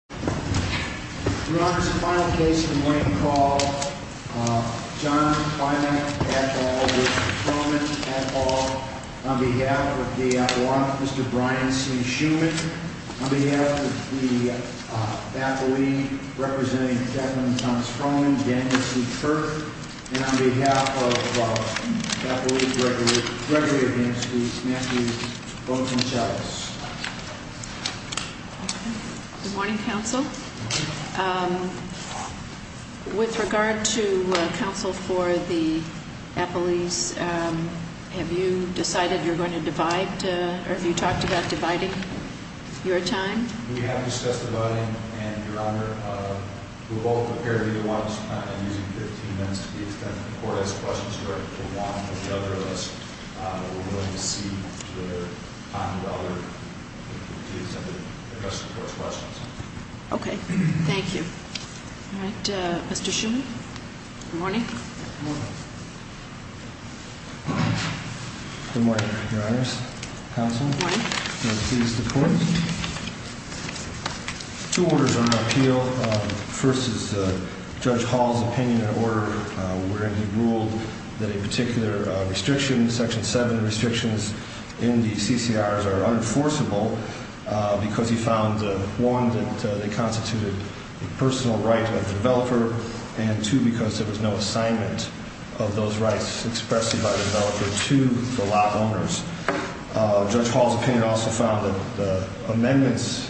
Mr. Schuman, on behalf of the faculty representing Declan Thomas Froman, Daniel C. Kirk, and on behalf of faculty, Gregory Hamsky, Matthew Bolton-Chiles. Good morning, counsel. With regard to counsel for the appellees, have you decided you're going to divide, or have you talked about dividing your time? We have discussed dividing, and Your Honor, we will both appear to be the ones using 15 minutes to be extended. If the court has questions for one or the other of us, we're willing to cede the time to others to address the court's questions. Okay. Thank you. All right. Mr. Schuman? Good morning. Good morning, Your Honors. Counsel? Good morning. Can I please see the court? Two orders on appeal. First is Judge Hall's opinion in order wherein he ruled that a particular restriction, Section 7 restrictions in the CCRs are unenforceable because he found, one, that they constituted a personal right of the developer, and two, because there was no assignment of those rights expressly by the developer to the law owners. Judge Hall's opinion also found that the amendments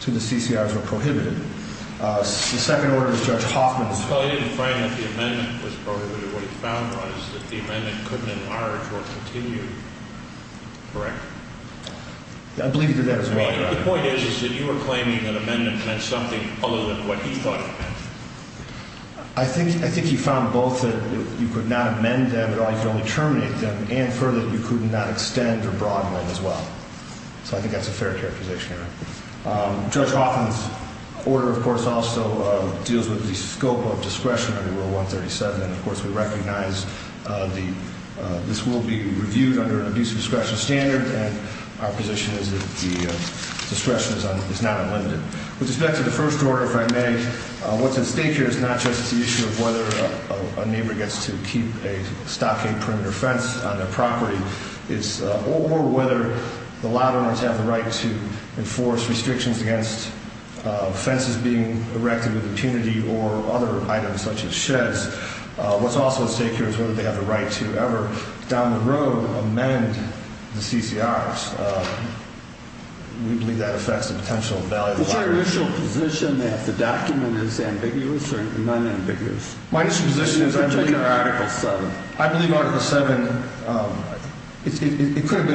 to the CCRs were prohibited. The second order is Judge Hoffman's. Well, I didn't find that the amendment was prohibited. What he found, Your Honor, is that the amendment couldn't enlarge or continue. Correct? I believe he did that as well, Your Honor. I mean, the point is, is that you were claiming that amendment meant something other than what he thought it meant. I think he found both that you could not amend them at all, you could only terminate them, and further, that you could not extend or broaden them as well. So I think that's a fair characterization, Your Honor. Judge Hoffman's order, of course, also deals with the scope of discretion under Rule 137. And, of course, we recognize this will be reviewed under an abuse of discretion standard, and our position is that the discretion is not unlimited. With respect to the first order, if I may, what's at stake here is not just the issue of whether a neighbor gets to keep a stockade perimeter fence on their property, or whether the law owners have the right to enforce restrictions against fences being erected with impunity or other items such as sheds. What's also at stake here is whether they have the right to ever, down the road, amend the CCRs. We believe that affects the potential value of the property. Is your initial position that the document is ambiguous or non-ambiguous? My initial position is I believe Article 7. It could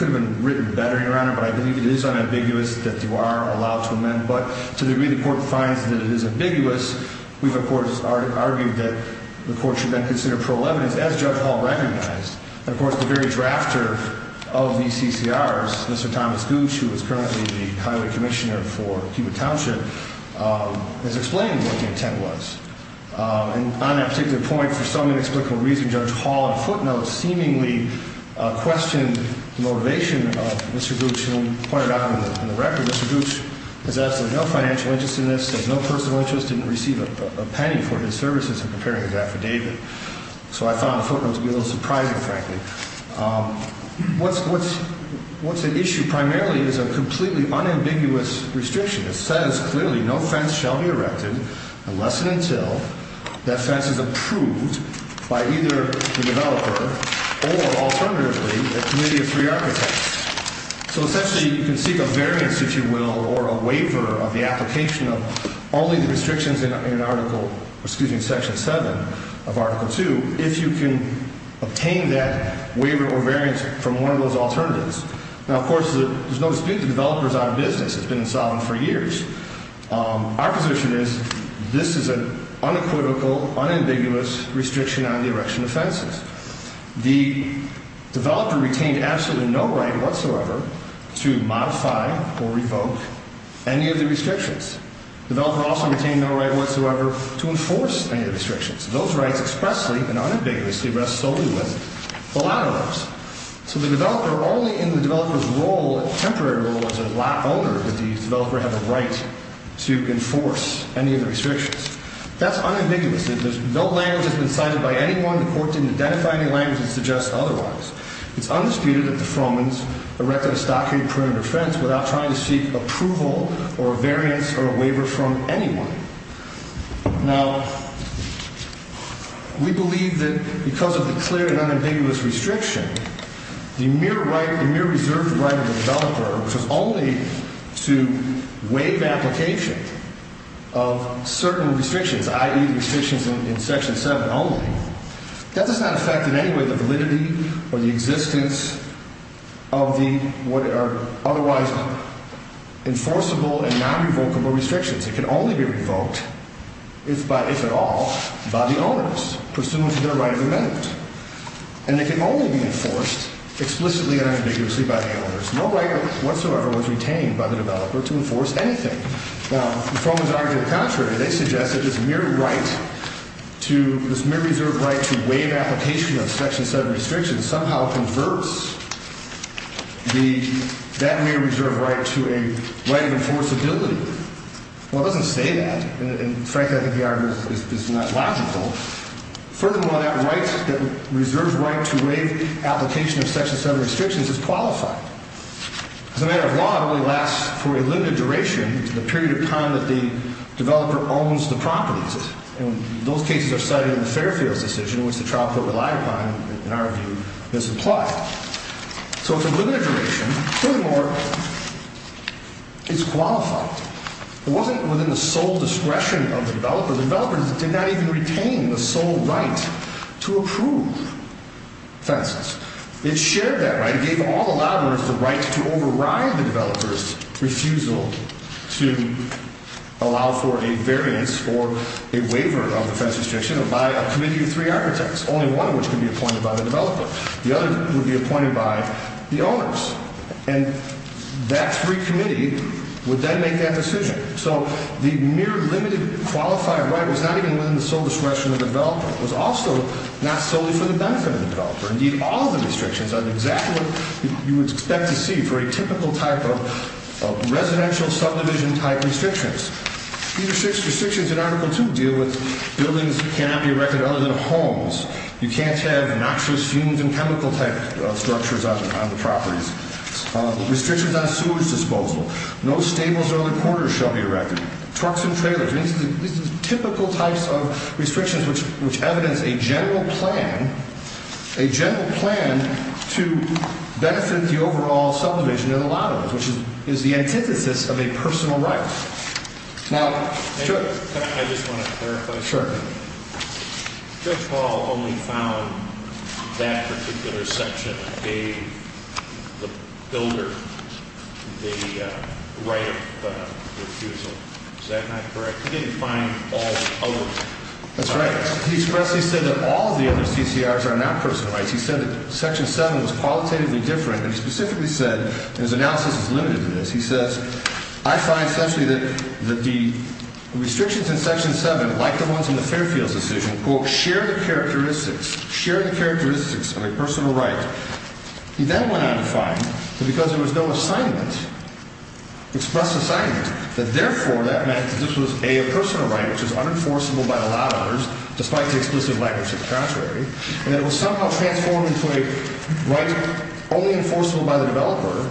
have been written better, Your Honor, but I believe it is unambiguous that you are allowed to amend. But to the degree the Court finds that it is ambiguous, we've, of course, argued that the Court should then consider parole evidence, as Judge Hall recognized. And, of course, the very drafter of the CCRs, Mr. Thomas Gooch, who is currently the highway commissioner for Cuba Township, has explained what the intent was. And on that particular point, for some inexplicable reason, Judge Hall in footnotes seemingly questioned the motivation of Mr. Gooch. And we pointed out in the record, Mr. Gooch has absolutely no financial interest in this, has no personal interest, didn't receive a penny for his services in preparing his affidavit. So I found the footnotes to be a little surprising, frankly. What's at issue primarily is a completely unambiguous restriction that says clearly no fence shall be erected unless and until that fence is approved by either the developer or, alternatively, the Committee of Three Architects. So, essentially, you can seek a variance, if you will, or a waiver of the application of only the restrictions in Article – excuse me – Section 7 of Article 2 if you can obtain that waiver or variance from one of those alternatives. Now, of course, there's no dispute the developer is out of business. It's been insolvent for years. Our position is this is an unequivocal, unambiguous restriction on the erection of fences. The developer retained absolutely no right whatsoever to modify or revoke any of the restrictions. The developer also retained no right whatsoever to enforce any of the restrictions. Those rights expressly and unambiguously rest solely with the latter laws. So the developer, only in the developer's role, temporary role as an owner, did the developer have a right to enforce any of the restrictions. That's unambiguous. There's no language that's been cited by anyone. The Court didn't identify any language that suggests otherwise. It's undisputed that the Fromans erected a stockade perimeter fence without trying to seek approval or a variance or a waiver from anyone. Now, we believe that because of the clear and unambiguous restriction, the mere right, the mere reserved right of the developer, which was only to waive application of certain restrictions, i.e. the restrictions in Section 7 only, that does not affect in any way the validity or the existence of the otherwise enforceable and non-revocable restrictions. It can only be revoked, if at all, by the owners, pursuant to their right of amendment. And it can only be enforced explicitly and unambiguously by the owners. No right whatsoever was retained by the developer to enforce anything. Now, the Fromans argued the contrary. They suggested this mere right to, this mere reserved right to waive application of Section 7 restrictions somehow converts that mere reserved right to a right of enforceability. Well, it doesn't say that. And, frankly, I think the argument is not logical. Furthermore, that right, that reserved right to waive application of Section 7 restrictions is qualified. As a matter of law, it only lasts for a limited duration, the period of time that the developer owns the properties. And those cases are cited in the Fairfield's decision, which the trial court relied upon, in our view, misapplied. So it's a limited duration. Furthermore, it's qualified. It wasn't within the sole discretion of the developer. The developer did not even retain the sole right to approve fences. It shared that right. It gave all the lobbyists the right to override the developer's refusal to allow for a variance or a waiver of the fence restriction by a committee of three architects, only one of which can be appointed by the developer. The other would be appointed by the owners. And that three committee would then make that decision. So the mere limited qualified right was not even within the sole discretion of the developer. Indeed, all the restrictions are exactly what you would expect to see for a typical type of residential subdivision-type restrictions. These restrictions in Article 2 deal with buildings that cannot be erected other than homes. You can't have noxious fumes and chemical-type structures on the properties. Restrictions on sewage disposal. No stables or other quarters shall be erected. Trucks and trailers. These are typical types of restrictions which evidence a general plan to benefit the overall subdivision and a lot of it, which is the antithesis of a personal right. I just want to clarify something. Sure. Judge Hall only found that particular section gave the builder the right of refusal. Is that not correct? He didn't find all the others. That's right. He expressly said that all of the other CCRs are not personal rights. He said that Section 7 was qualitatively different. And he specifically said, and his analysis is limited to this, he says, I find, essentially, that the restrictions in Section 7, like the ones in the Fairfields decision, quote, share the characteristics of a personal right. He then went on to find that because there was no assignment, express assignment, that, therefore, that meant that this was, A, a personal right which is unenforceable by the lot owners, despite the explicit language of the contrary, and that it was somehow transformed into a right only enforceable by the developer.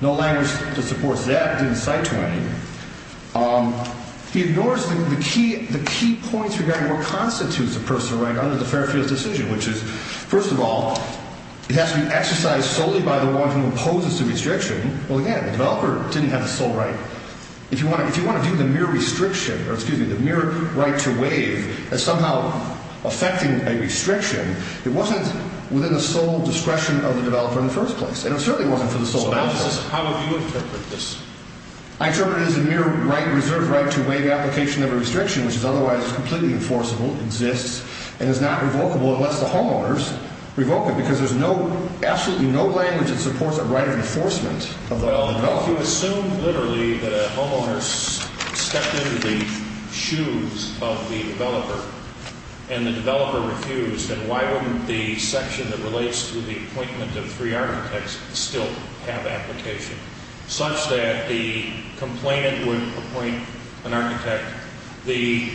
No language that supports that. He didn't cite to him anything. He ignores the key points regarding what constitutes a personal right under the Fairfields decision, which is, first of all, it has to be exercised solely by the one who imposes the restriction. Well, again, the developer didn't have a sole right. If you want to view the mere restriction, or excuse me, the mere right to waive as somehow affecting a restriction, it wasn't within the sole discretion of the developer in the first place. And it certainly wasn't for the sole purpose. So now this is, how would you interpret this? I interpret it as a mere right, reserved right to waive application of a restriction which is otherwise completely enforceable, exists, and is not revocable unless the homeowners revoke it. Because there's no, absolutely no language that supports a right of enforcement of the developer. Well, if you assume literally that a homeowner stepped into the shoes of the developer and the developer refused, then why wouldn't the section that relates to the appointment of three architects still have application? Such that the complainant would appoint an architect, the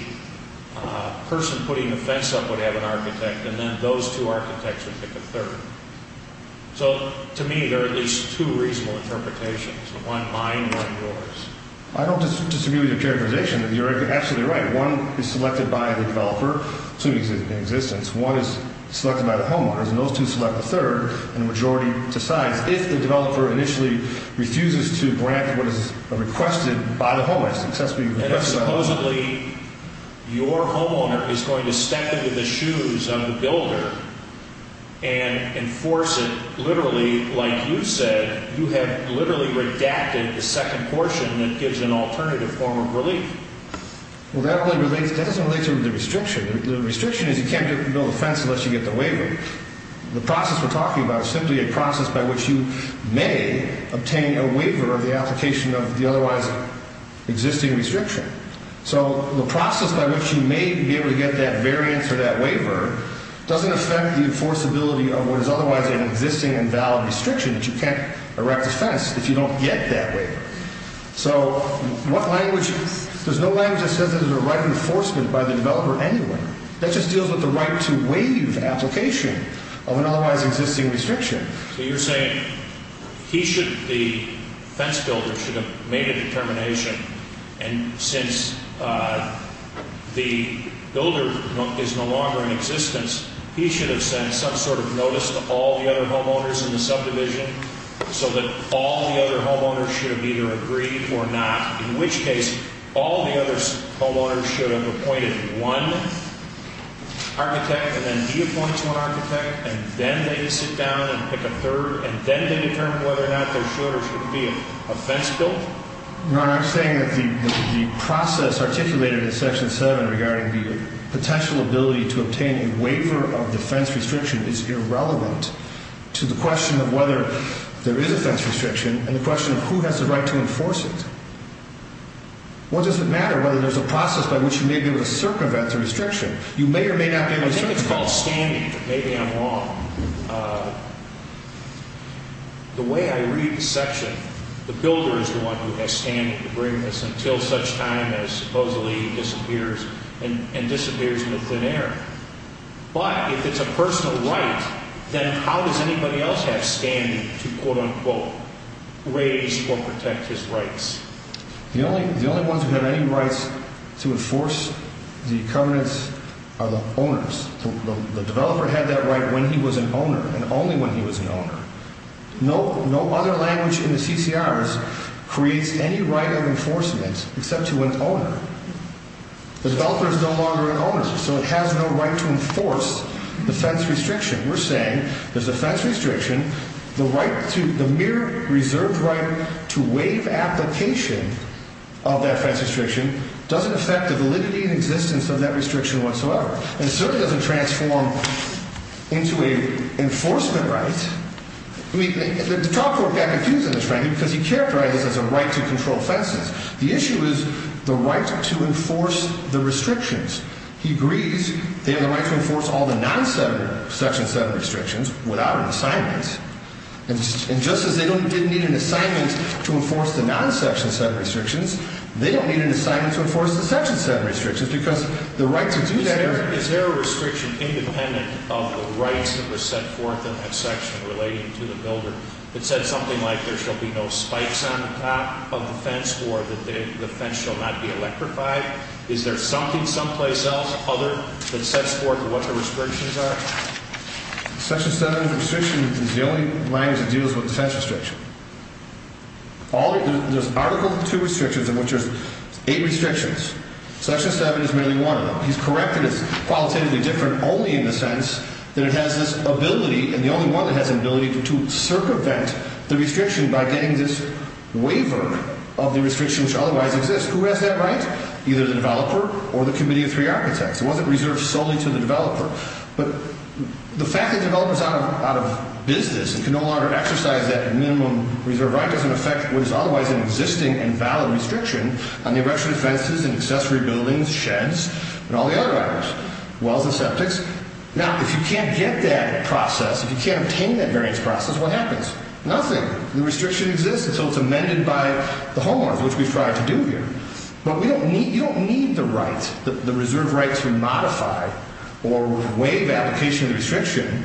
person putting the fence up would have an architect, and then those two architects would pick a third. So, to me, there are at least two reasonable interpretations. One mine, one yours. I don't disagree with your characterization. You're absolutely right. One is selected by the developer, assuming it's in existence. One is selected by the homeowners, and those two select the third, and the majority decides. If the developer initially refuses to grant what is requested by the homeowners, And if supposedly your homeowner is going to step into the shoes of the builder and enforce it literally like you said, you have literally redacted the second portion that gives an alternative form of relief. Well, that doesn't relate to the restriction. The restriction is you can't build a fence unless you get the waiver. The process we're talking about is simply a process by which you may obtain a waiver of the application of the otherwise existing restriction. So, the process by which you may be able to get that variance or that waiver doesn't affect the enforceability of what is otherwise an existing and valid restriction, that you can't erect a fence if you don't get that waiver. So, there's no language that says there's a right to enforcement by the developer anyway. That just deals with the right to waive application of an otherwise existing restriction. So, you're saying the fence builder should have made a determination, and since the builder is no longer in existence, he should have sent some sort of notice to all the other homeowners in the subdivision, so that all the other homeowners should have either agreed or not, in which case all the other homeowners should have appointed one architect, and then he appoints one architect, and then they sit down and pick a third, and then they determine whether or not there should or should be a fence built? Your Honor, I'm saying that the process articulated in Section 7 regarding the potential ability to obtain a waiver of the fence restriction is irrelevant to the question of whether there is a fence restriction and the question of who has the right to enforce it. What does it matter whether there's a process by which you may be able to circumvent the restriction? You may or may not be able to circumvent it. I think it's called standing. Maybe I'm wrong. The way I read the section, the builder is the one who has standing to bring this until such time as supposedly disappears and disappears in the thin air. But if it's a personal right, then how does anybody else have standing to quote-unquote raise or protect his rights? The only ones who have any rights to enforce the covenants are the owners. The developer had that right when he was an owner and only when he was an owner. No other language in the CCRs creates any right of enforcement except to an owner. The developer is no longer an owner, so it has no right to enforce the fence restriction. We're saying there's a fence restriction. The right to the mere reserved right to waive application of that fence restriction doesn't affect the validity and existence of that restriction whatsoever. It certainly doesn't transform into a enforcement right. The top court got confused in this, frankly, because he characterized this as a right to control fences. The issue is the right to enforce the restrictions. He agrees they have the right to enforce all the non-section-set restrictions without an assignment. And just as they didn't need an assignment to enforce the non-section-set restrictions, they don't need an assignment to enforce the section-set restrictions, because the right to do that— Is there a restriction independent of the rights that were set forth in that section relating to the builder that said something like, there shall be no spikes on the top of the fence or that the fence shall not be electrified? Is there something someplace else, other, that sets forth what the restrictions are? Section 7's restriction is the only language that deals with the fence restriction. There's Article 2 restrictions in which there's eight restrictions. Section 7 is merely one of them. He's corrected it's qualitatively different only in the sense that it has this ability, and the only one that has an ability, to circumvent the restriction by getting this waiver of the restriction which otherwise exists. Who has that right? Either the developer or the Committee of Three Architects. It wasn't reserved solely to the developer. But the fact that the developer is out of business and can no longer exercise that minimum reserve right doesn't affect what is otherwise an existing and valid restriction on the erection of fences and accessory buildings, sheds, and all the other items—wells and septics. Now, if you can't get that process, if you can't obtain that variance process, what happens? Nothing. The restriction exists until it's amended by the homeowners, which we strive to do here. But you don't need the right, the reserve right to modify or waive application of the restriction.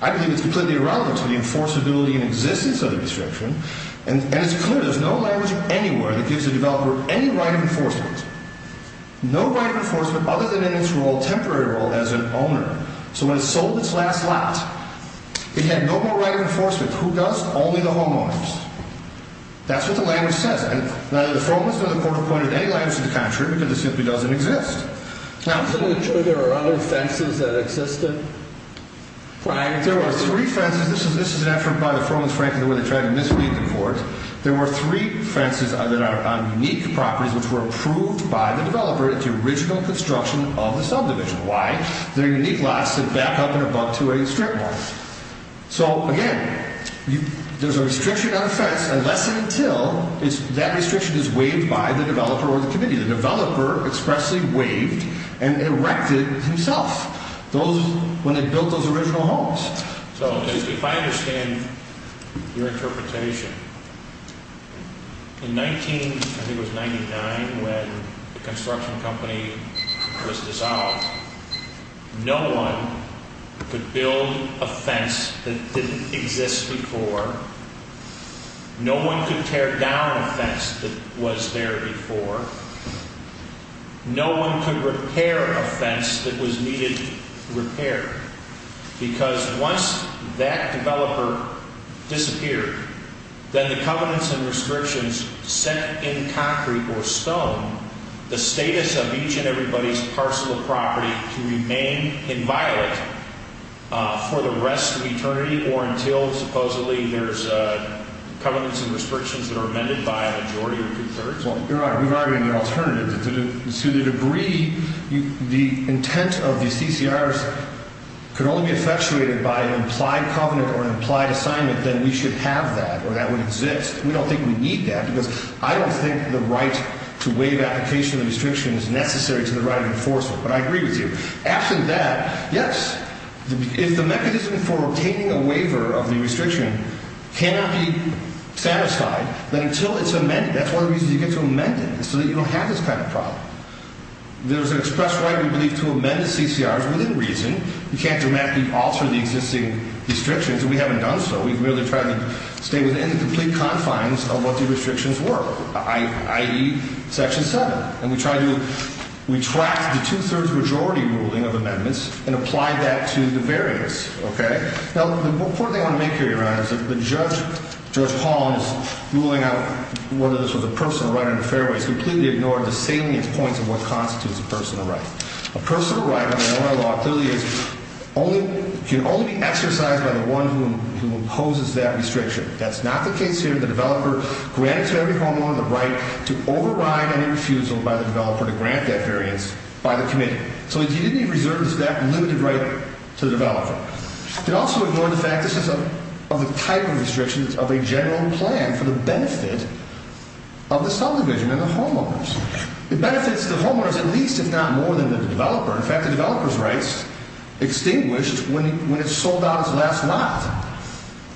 I believe it's completely irrelevant to the enforceability and existence of the restriction. And it's clear there's no language anywhere that gives a developer any right of enforcement, no right of enforcement other than in its role, temporary role, as an owner. So when it sold its last lot, it had no more right of enforcement. Who does? Only the homeowners. That's what the language says. And neither the Fromans nor the Court appointed any language to the contrary because it simply doesn't exist. Now— So there are other fences that existed prior to— There were three fences—this is an effort by the Fromans, frankly, where they tried to mislead the courts. There were three fences that are on unique properties which were approved by the developer into original construction of the subdivision. Why? They're unique lots that back up and above to a strip mall. So, again, there's a restriction on the fence unless and until that restriction is waived by the developer or the committee. The developer expressly waived and erected himself when they built those original homes. So if I understand your interpretation, in 19—I think it was 1999 when the construction company was dissolved, no one could build a fence that didn't exist before. No one could tear down a fence that was there before. No one could repair a fence that was needed repair because once that developer disappeared, then the covenants and restrictions set in concrete or stone, the status of each and everybody's parcel of property can remain inviolate for the rest of eternity or until, supposedly, there's covenants and restrictions that are amended by a majority or two-thirds. Well, you're right. We've already had an alternative. To the degree the intent of the CCRs could only be effectuated by an implied covenant or an implied assignment, then we should have that or that would exist. We don't think we need that because I don't think the right to waive application of the restriction is necessary to the right of enforcement. But I agree with you. Absent that, yes, if the mechanism for obtaining a waiver of the restriction cannot be satisfied, then until it's amended, that's one of the reasons you get to amend it, so that you don't have this kind of problem. There's an express right, we believe, to amend the CCRs within reason. You can't dramatically alter the existing restrictions, and we haven't done so. We've merely tried to stay within the complete confines of what the restrictions were, i.e., Section 7. And we try to retract the two-thirds majority ruling of amendments and apply that to the barriers, okay? Now, the important thing I want to make here, Your Honor, is that Judge Paul is ruling out whether this was a personal right on the fairway. He's completely ignored the salient points of what constitutes a personal right. A personal right on an oral law clearly can only be exercised by the one who imposes that restriction. That's not the case here. The developer grants every homeowner the right to override any refusal by the developer to grant that variance by the committee. So, indeed, he reserves that limited right to the developer. He also ignored the fact this is of the type of restriction of a general plan for the benefit of the subdivision and the homeowners. It benefits the homeowners at least, if not more, than the developer. In fact, the developer's rights extinguished when it sold out its last lot.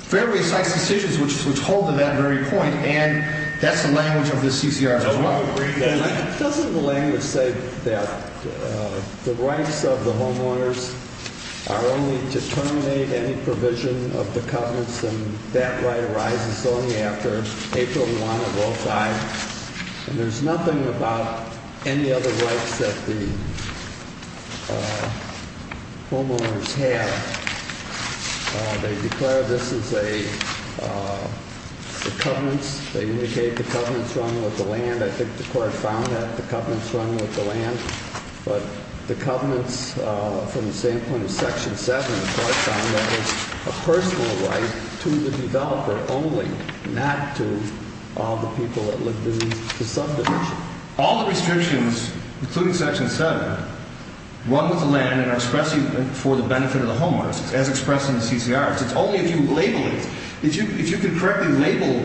Fairway cites decisions which hold to that very point, and that's the language of the CCRs as well. Doesn't the language say that the rights of the homeowners are only to terminate any provision of the covenants, and that right arises only after April 1 of 05? And there's nothing about any other rights that the homeowners have. They declare this is a covenants. They indicate the covenants run with the land. I think the Court found that the covenants run with the land. But the covenants from the same point of Section 7, the Court found that it's a personal right to the developer only, not to all the people that live in the subdivision. All the restrictions, including Section 7, run with the land and are expressive for the benefit of the homeowners, as expressed in the CCRs. It's only if you label it. If you can correctly label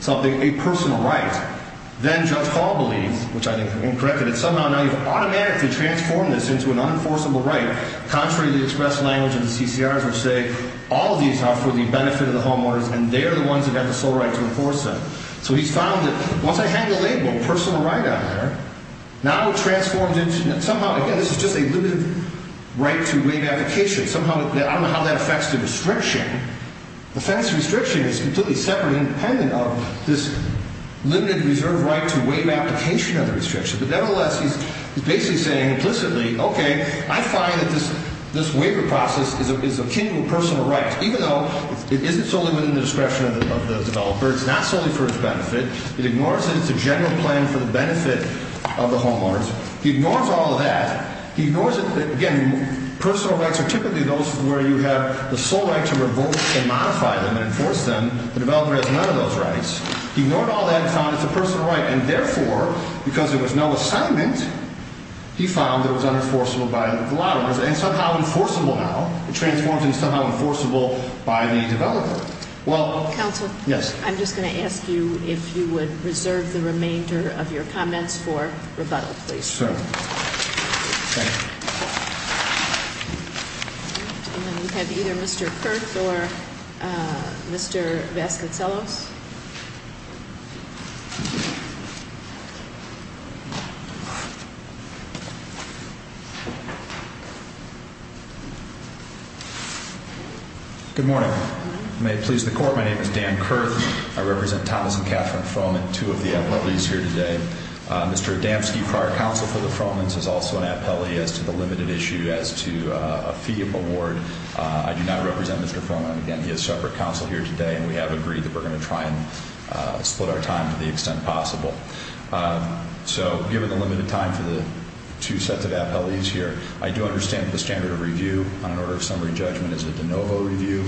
something a personal right, then Judge Hall believes, which I think I'm incorrect in, that somehow now you've automatically transformed this into an unenforceable right, contrary to the expressed language in the CCRs, which say all of these are for the benefit of the homeowners, and they are the ones that have the sole right to enforce them. So he's found that once I had the label personal right on there, now it transforms into somehow, again, this is just a limited right to waive application. Somehow, I don't know how that affects the restriction. The offense restriction is completely separate and independent of this limited reserve right to waive application of the restriction. But nevertheless, he's basically saying implicitly, okay, I find that this waiver process is akin to a personal right, even though it isn't solely within the discretion of the developer. It's not solely for his benefit. It ignores that it's a general plan for the benefit of the homeowners. He ignores all of that. He ignores that, again, personal rights are typically those where you have the sole right to revoke and modify them and enforce them. The developer has none of those rights. He ignored all that and found it's a personal right, and therefore, because there was no assignment, he found that it was unenforceable by the law. It's somehow enforceable now. It transforms into somehow enforceable by the developer. Well- Counsel. Yes. I'm just going to ask you if you would reserve the remainder of your comments for rebuttal, please. Sure. Thank you. And then we have either Mr. Kurth or Mr. Vasconcellos. Good morning. May it please the Court, my name is Dan Kurth. I represent Thomas and Catherine Froman, two of the appellees here today. Mr. Adamski, prior counsel for the Fromans, is also an appellee as to the limited issue as to a fee of award. I do not represent Mr. Froman. Again, he has separate counsel here today, and we have agreed that we're going to try and split our time to the extent possible. So given the limited time for the two sets of appellees here, I do understand that the standard of review on an order of summary judgment is a de novo review.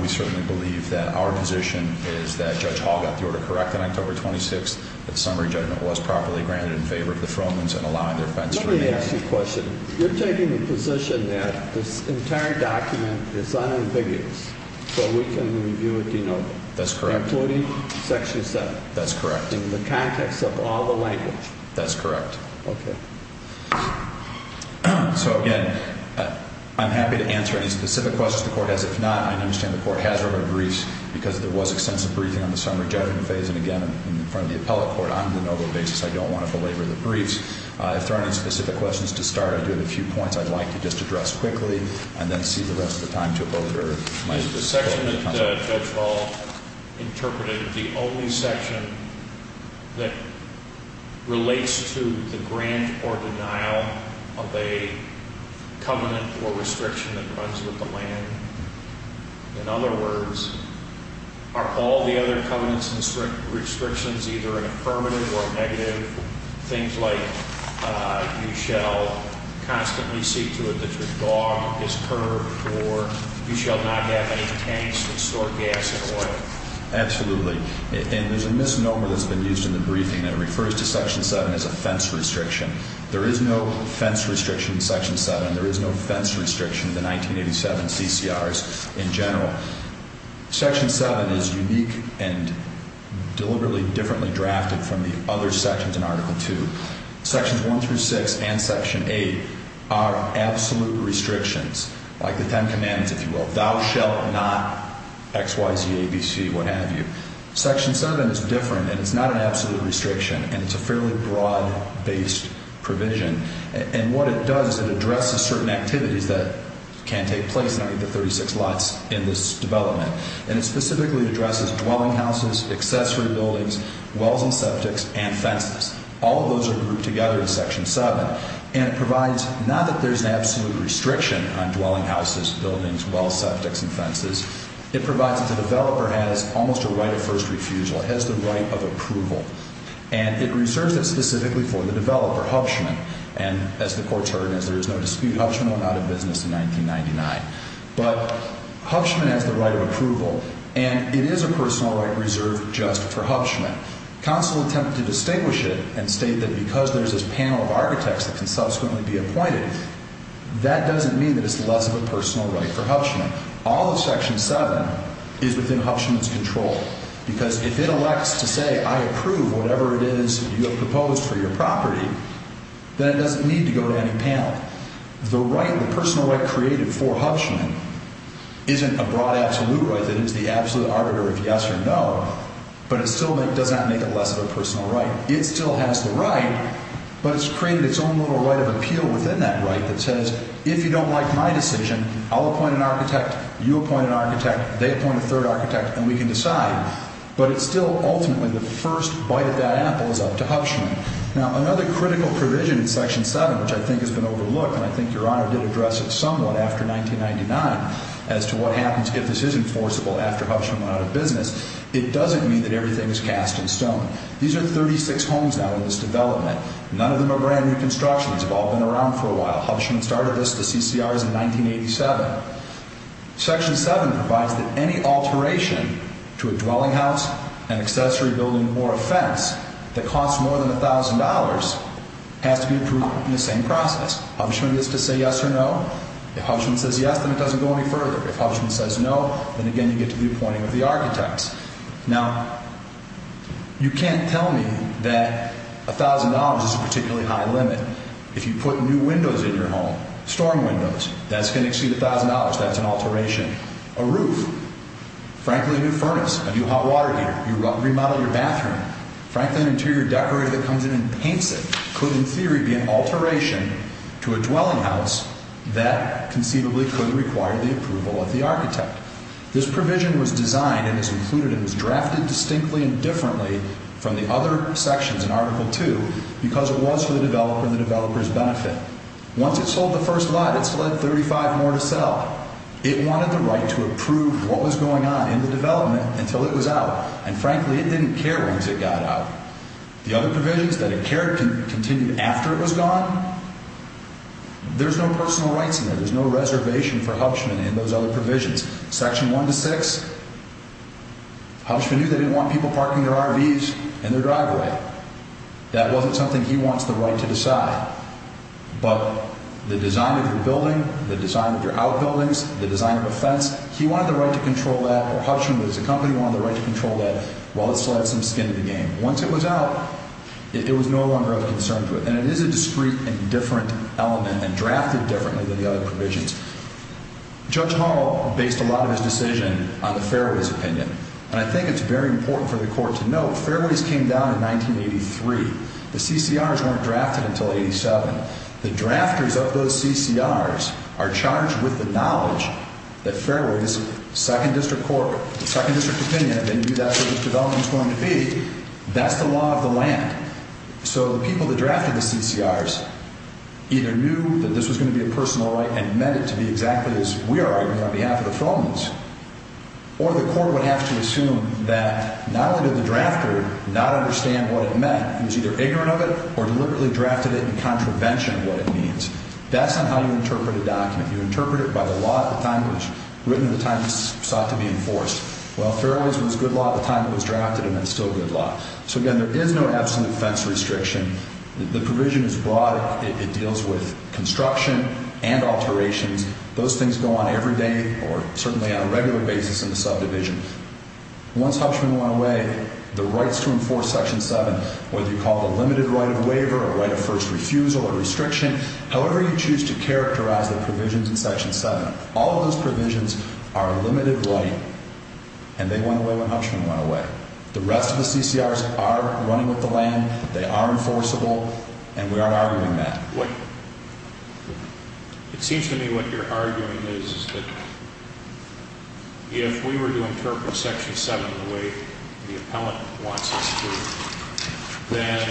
We certainly believe that our position is that Judge Hall got the order correct on October 26th, that summary judgment was properly granted in favor of the Fromans and allowing their offense to be reviewed. Let me ask you a question. You're taking the position that this entire document is unambiguous, so we can review it de novo? That's correct. Including Section 7? That's correct. In the context of all the language? That's correct. Okay. So, again, I'm happy to answer any specific questions the Court has. If not, I understand the Court has written briefs because there was extensive briefing on the summary judgment phase. And, again, in front of the appellate court, on a de novo basis, I don't want to belabor the briefs. If there are any specific questions to start, I do have a few points I'd like to just address quickly and then cede the rest of the time to a voter. Is the section that Judge Hall interpreted the only section that relates to the grant or denial of a covenant or restriction that runs with the land? In other words, are all the other covenants and restrictions either affirmative or negative? Things like you shall constantly see to it that your dog is curbed or you shall not have any tanks that store gas and oil. Absolutely. And there's a misnomer that's been used in the briefing that refers to Section 7 as a fence restriction. There is no fence restriction in Section 7. There is no fence restriction in the 1987 CCRs in general. Section 7 is unique and deliberately differently drafted from the other sections in Article 2. Sections 1 through 6 and Section 8 are absolute restrictions, like the Ten Commandments, if you will. Thou shalt not X, Y, Z, A, B, C, what have you. Section 7 is different, and it's not an absolute restriction, and it's a fairly broad-based provision. And what it does is it addresses certain activities that can take place underneath the 36 lots in this development. And it specifically addresses dwelling houses, accessory buildings, wells and septics, and fences. All of those are grouped together in Section 7. And it provides not that there's an absolute restriction on dwelling houses, buildings, wells, septics, and fences. It provides that the developer has almost a right of first refusal. It has the right of approval. And it reserves it specifically for the developer, Hubschman. And as the Court's heard, as there is no dispute, Hubschman went out of business in 1999. But Hubschman has the right of approval, and it is a personal right reserved just for Hubschman. Counsel attempted to distinguish it and state that because there's this panel of architects that can subsequently be appointed, that doesn't mean that it's less of a personal right for Hubschman. All of Section 7 is within Hubschman's control. Because if it elects to say, I approve whatever it is you have proposed for your property, then it doesn't need to go to any panel. The right, the personal right created for Hubschman, isn't a broad absolute right. It is the absolute arbiter of yes or no, but it still does not make it less of a personal right. It still has the right, but it's created its own little right of appeal within that right that says, if you don't like my decision, I'll appoint an architect, you appoint an architect, they appoint a third architect, and we can decide. But it's still ultimately the first bite of that apple is up to Hubschman. Now, another critical provision in Section 7, which I think has been overlooked, and I think Your Honor did address it somewhat after 1999, as to what happens if this is enforceable after Hubschman went out of business, it doesn't mean that everything is cast in stone. These are 36 homes now in this development. None of them are brand new constructions. They've all been around for a while. Hubschman started us, the CCRs, in 1987. Section 7 provides that any alteration to a dwelling house, an accessory building, or a fence that costs more than $1,000 has to be approved in the same process. Hubschman gets to say yes or no. If Hubschman says yes, then it doesn't go any further. If Hubschman says no, then again you get to the appointing of the architects. Now, you can't tell me that $1,000 is a particularly high limit. If you put new windows in your home, storm windows, that's going to exceed $1,000. That's an alteration. A roof, frankly, a new furnace, a new hot water heater. You remodel your bathroom, frankly, an interior decorator that comes in and paints it could, in theory, be an alteration to a dwelling house that conceivably could require the approval of the architect. This provision was designed and is included and was drafted distinctly and differently from the other sections in Article 2 because it was for the developer and the developer's benefit. Once it sold the first lot, it sled 35 more to sell. It wanted the right to approve what was going on in the development until it was out, and frankly, it didn't care once it got out. The other provisions that it cared continued after it was gone. There's no personal rights in there. There's no reservation for Hubschman in those other provisions. Section 1 to 6, Hubschman knew they didn't want people parking their RVs in their driveway. That wasn't something he wants the right to decide. But the design of your building, the design of your outbuildings, the design of a fence, he wanted the right to control that, or Hubschman, as a company, wanted the right to control that while it still had some skin in the game. Once it was out, it was no longer of concern to it, and it is a discrete and different element and drafted differently than the other provisions. Judge Hall based a lot of his decision on the fairways opinion, and I think it's very important for the Court to note that the fairways came down in 1983. The CCRs weren't drafted until 1987. The drafters of those CCRs are charged with the knowledge that fairways, second district court, second district opinion, if they knew that's what this development was going to be, that's the law of the land. So the people that drafted the CCRs either knew that this was going to be a personal right and meant it to be exactly as we are arguing on behalf of the felons, or the Court would have to assume that not only did the drafter not understand what it meant, he was either ignorant of it or deliberately drafted it in contravention of what it means. That's not how you interpret a document. You interpret it by the law at the time it was written and the time it sought to be enforced. Well, fairways was good law at the time it was drafted, and it's still good law. So, again, there is no absolute fence restriction. The provision is broad. It deals with construction and alterations. Those things go on every day or certainly on a regular basis in the subdivision. Once Huffman went away, the rights to enforce Section 7, whether you call it the limited right of waiver or right of first refusal or restriction, however you choose to characterize the provisions in Section 7, all of those provisions are a limited right, and they went away when Huffman went away. The rest of the CCRs are running with the land. They are enforceable, and we aren't arguing that. It seems to me what you're arguing is that if we were to interpret Section 7 the way the appellant wants us to, then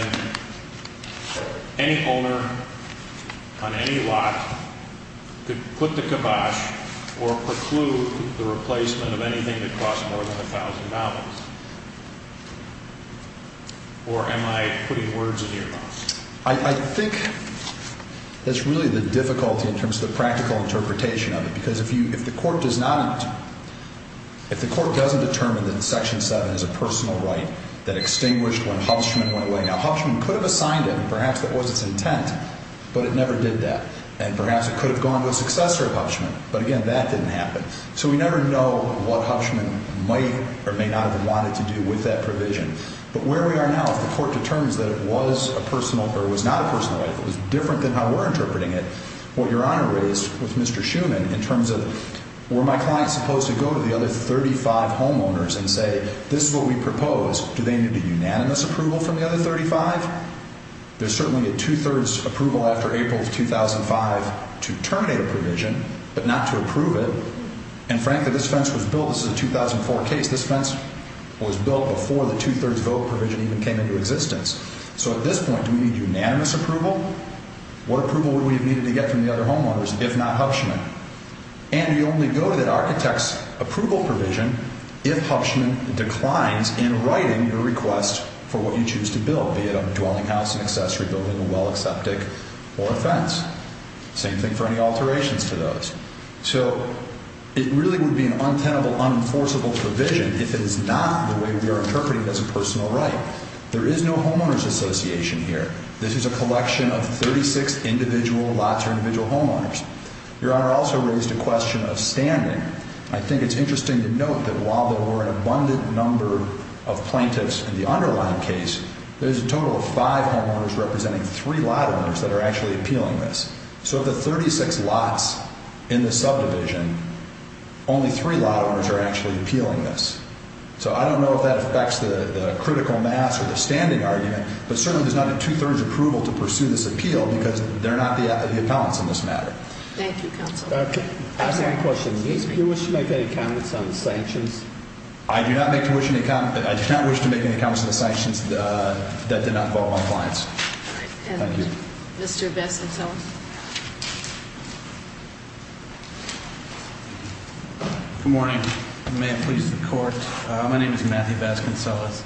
any owner on any lot could put the kibosh or preclude the replacement of anything that costs more than $1,000. Or am I putting words in your mouth? I think that's really the difficulty in terms of the practical interpretation of it, because if the court doesn't determine that Section 7 is a personal right that extinguished when Huffman went away, now, Huffman could have assigned it, and perhaps that was its intent, but it never did that. And perhaps it could have gone to a successor of Huffman, but, again, that didn't happen. So we never know what Huffman might or may not have wanted to do with that provision. But where we are now, if the court determines that it was a personal or was not a personal right, if it was different than how we're interpreting it, what Your Honor raised with Mr. Schuman in terms of were my clients supposed to go to the other 35 homeowners and say, this is what we propose, do they need a unanimous approval from the other 35? There's certainly a two-thirds approval after April of 2005 to terminate a provision, but not to approve it. And, frankly, this fence was built. This is a 2004 case. This fence was built before the two-thirds vote provision even came into existence. So at this point, do we need unanimous approval? What approval would we have needed to get from the other homeowners if not Huffman? And do you only go to that architect's approval provision if Huffman declines in writing your request for what you choose to build, be it a dwelling house, an accessory building, a well, a septic, or a fence? Same thing for any alterations to those. So it really would be an untenable, unenforceable provision if it is not the way we are interpreting it as a personal right. There is no homeowners association here. This is a collection of 36 individual lots or individual homeowners. Your Honor also raised a question of standing. I think it's interesting to note that while there were an abundant number of plaintiffs in the underlying case, there's a total of five homeowners representing three lot owners that are actually appealing this. So of the 36 lots in the subdivision, only three lot owners are actually appealing this. So I don't know if that affects the critical mass or the standing argument, but certainly there's not a two-thirds approval to pursue this appeal because they're not the appellants in this matter. Thank you, Counsel. I have a question. Do you wish to make any comments on the sanctions? I do not wish to make any comments on the sanctions that did not involve my clients. Thank you. Thank you, Mr. Vasconcellos. Good morning. May it please the Court. My name is Matthew Vasconcellos.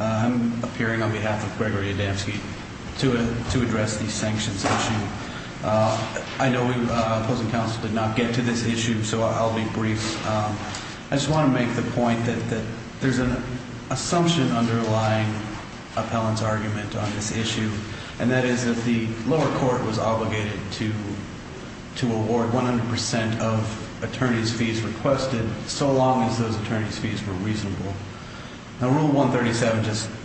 I'm appearing on behalf of Gregory Adamski to address the sanctions issue. I know the opposing counsel did not get to this issue, so I'll be brief. I just want to make the point that there's an assumption underlying appellant's argument on this issue, and that is that the lower court was obligated to award 100 percent of attorney's fees requested, so long as those attorney's fees were reasonable. Now, Rule 137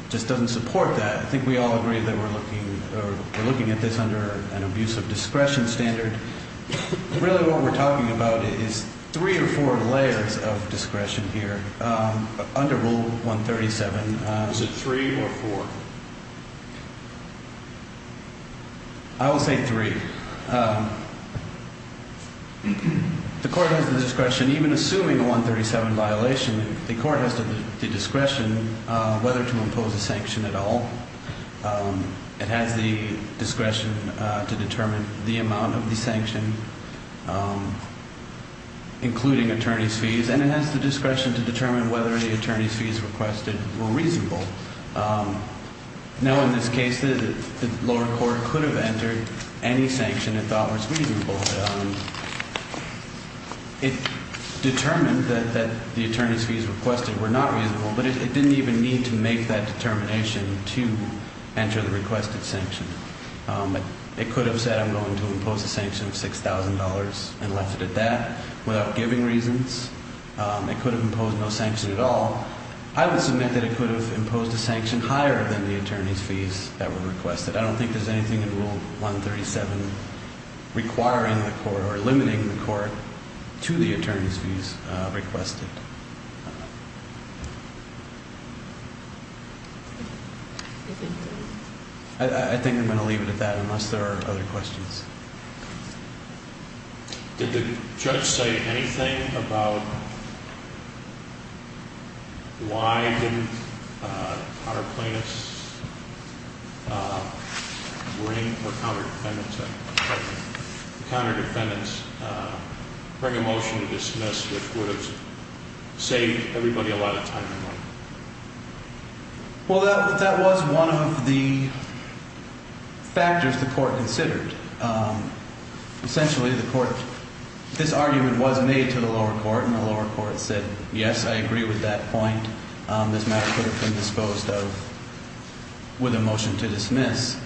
just doesn't support that. I think we all agree that we're looking at this under an abuse of discretion standard. Really what we're talking about is three or four layers of discretion here under Rule 137. Is it three or four? I will say three. The court has the discretion, even assuming a 137 violation, the court has the discretion whether to impose a sanction at all. It has the discretion to determine the amount of the sanction, including attorney's fees, and it has the discretion to determine whether the attorney's fees requested were reasonable. Now, in this case, the lower court could have entered any sanction it thought was reasonable. It determined that the attorney's fees requested were not reasonable, but it didn't even need to make that determination to enter the requested sanction. It could have said I'm going to impose a sanction of $6,000 and left it at that without giving reasons. It could have imposed no sanction at all. I would submit that it could have imposed a sanction higher than the attorney's fees that were requested. I don't think there's anything in Rule 137 requiring the court or limiting the court to the attorney's fees requested. I think I'm going to leave it at that unless there are other questions. Did the judge say anything about why didn't counter plaintiffs bring or counter defendants bring a motion to dismiss, which would have saved everybody a lot of time and money? Well, that was one of the factors the court considered. Essentially, this argument was made to the lower court, and the lower court said yes, I agree with that point. This matter could have been disposed of with a motion to dismiss.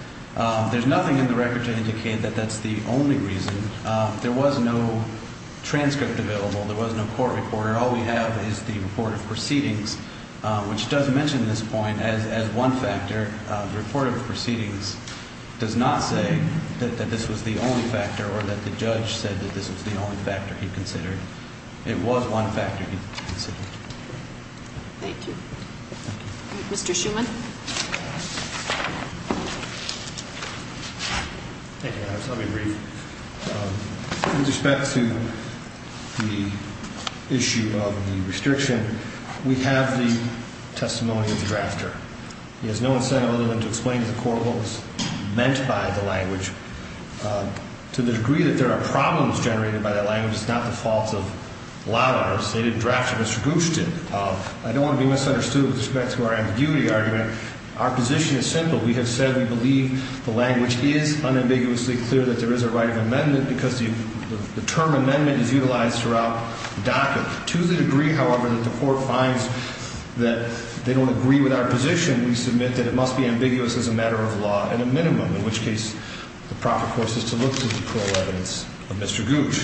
There's nothing in the record to indicate that that's the only reason. There was no transcript available. There was no court report. All we have is the report of proceedings, which does mention this point as one factor. The report of proceedings does not say that this was the only factor or that the judge said that this was the only factor he considered. It was one factor he considered. Thank you. Mr. Schuman? Thank you, Harris. Let me read. With respect to the issue of the restriction, we have the testimony of the drafter. He has no incentive other than to explain to the court what was meant by the language. To the degree that there are problems generated by that language, it's not the fault of Lawrence. They didn't draft it. Mr. Gooch did. I don't want to be misunderstood with respect to our ambiguity argument. Our position is simple. We have said we believe the language is unambiguously clear that there is a right of amendment because the term amendment is utilized throughout the docket. To the degree, however, that the court finds that they don't agree with our position, we submit that it must be ambiguous as a matter of law in a minimum, in which case the proper course is to look to the cruel evidence of Mr. Gooch,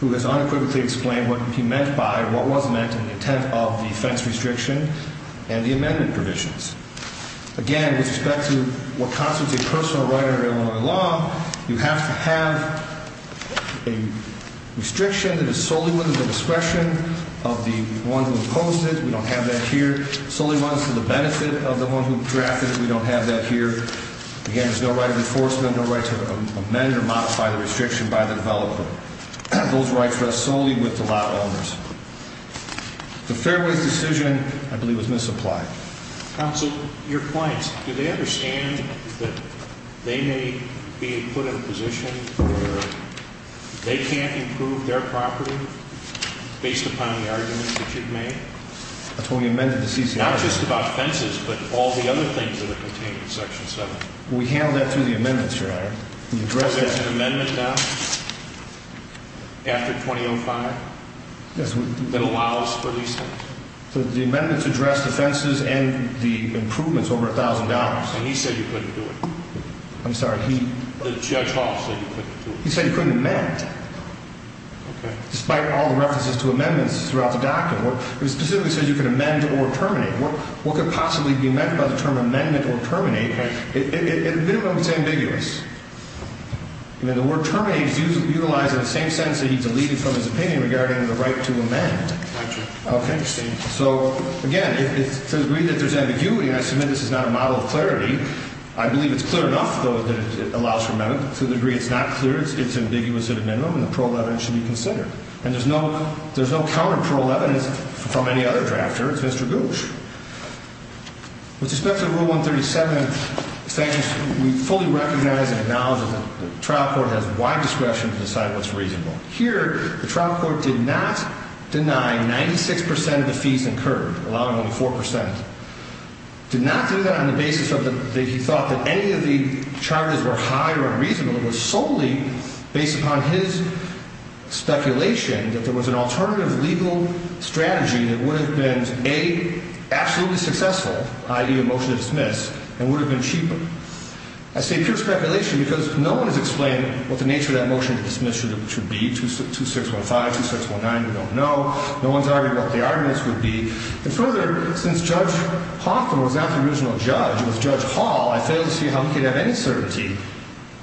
who has unequivocally explained what he meant by what was meant in the intent of the offense restriction and the amendment provisions. Again, with respect to what constitutes a personal right under Illinois law, you have to have a restriction that is solely within the discretion of the one who imposed it. We don't have that here. It solely runs to the benefit of the one who drafted it. We don't have that here. Again, there's no right of enforcement, no right to amend or modify the restriction by the developer. Those rights rest solely with the law owners. The Fairway's decision, I believe, was misapplied. Counsel, your clients, do they understand that they may be put in a position where they can't improve their property based upon the argument that you've made? That's when we amended the CCR. Not just about fences, but all the other things that are contained in Section 7. We handled that through the amendments, Your Honor. You addressed that? Is there an amendment now, after 2005, that allows for these things? The amendments address the fences and the improvements over $1,000. And he said you couldn't do it. I'm sorry? Judge Hall said you couldn't do it. He said you couldn't amend, despite all the references to amendments throughout the document. It specifically says you can amend or terminate. What could possibly be meant by the term amendment or terminate? It's ambiguous. The word terminate is utilized in the same sense that he deleted from his opinion regarding the right to amend. Okay. So, again, to the degree that there's ambiguity, and I submit this is not a model of clarity, I believe it's clear enough, though, that it allows for amendment. To the degree it's not clear, it's ambiguous at a minimum, and the parole evidence should be considered. And there's no counterparole evidence from any other drafter. It's Mr. Gooch. With respect to Rule 137, we fully recognize and acknowledge that the trial court has wide discretion to decide what's reasonable. Here, the trial court did not deny 96% of the fees incurred, allowing only 4%. It did not do that on the basis that he thought that any of the charges were high or unreasonable. It was solely based upon his speculation that there was an alternative legal strategy that would have been, A, absolutely successful, i.e., a motion to dismiss, and would have been cheaper. I say pure speculation because no one has explained what the nature of that motion to dismiss should be. 2615, 2619, we don't know. No one's argued what the arguments would be. And further, since Judge Hoffman was not the original judge, it was Judge Hall, I fail to see how we could have any certainty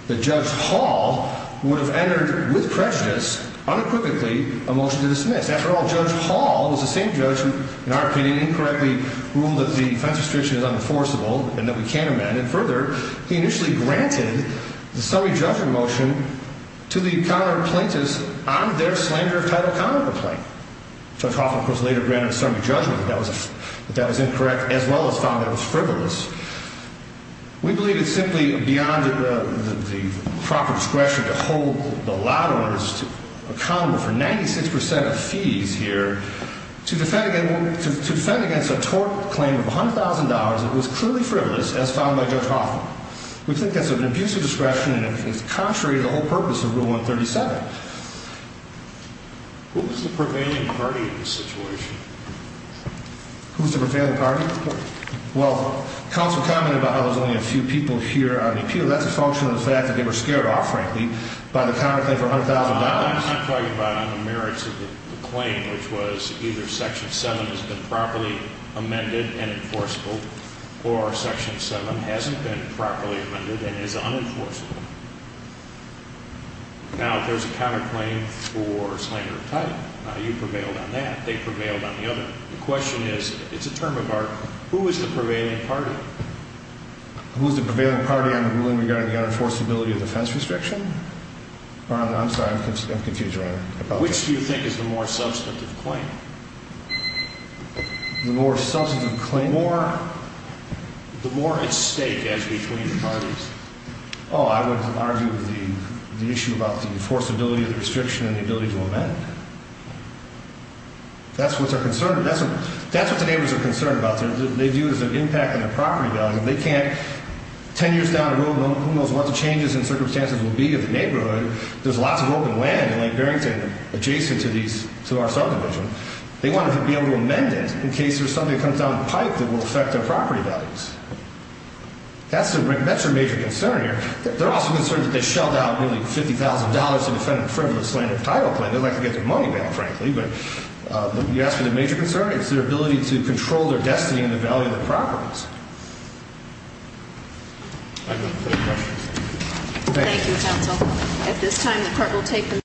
that Judge Hall would have entered, with prejudice, unequivocally, a motion to dismiss. After all, Judge Hall was the same judge who, in our opinion, incorrectly ruled that the defense restriction is unenforceable and that we can't amend. And further, he initially granted the summary judgment motion to the counter-plaintiffs on their slander of title counter-complaint. Judge Hoffman, of course, later granted a summary judgment that that was incorrect, as well as found that it was frivolous. We believe it's simply beyond the proper discretion to hold the lot owners accountable for 96% of fees here to defend against a tort claim of $100,000 that was clearly frivolous, as found by Judge Hoffman. We think that's an abusive discretion and it's contrary to the whole purpose of Rule 137. Who was the prevailing party in this situation? Who was the prevailing party? Well, counsel commented about how there's only a few people here on the appeal. That's a function of the fact that they were scared off, frankly, by the counter-claim for $100,000. I'm talking about on the merits of the claim, which was either Section 7 has been properly amended and enforceable or Section 7 hasn't been properly amended and is unenforceable. Now, if there's a counter-claim for slander of title, you prevailed on that. They prevailed on the other. The question is, it's a term of art, who was the prevailing party? Who was the prevailing party on the ruling regarding the unenforceability of defense restriction? I'm sorry, I'm confused right now. Which do you think is the more substantive claim? The more substantive claim? The more at stake, actually, between the parties. Oh, I would argue the issue about the enforceability of the restriction and the ability to amend? That's what they're concerned about. That's what the neighbors are concerned about. They view it as an impact on their property values. If they can't, 10 years down the road, who knows what the changes and circumstances will be in the neighborhood. There's lots of open land in Lake Barrington adjacent to our subdivision. They want to be able to amend it in case there's something that comes down the pipe that will affect their property values. That's their major concern here. They're also concerned that they shelled out nearly $50,000 to defend a frivolous slander of title claim. They'd like to get their money back, frankly. But you ask for the major concern? It's their ability to control their destiny and the value of their properties. I don't have any further questions. Thank you, counsel. At this time, the court will take the motion.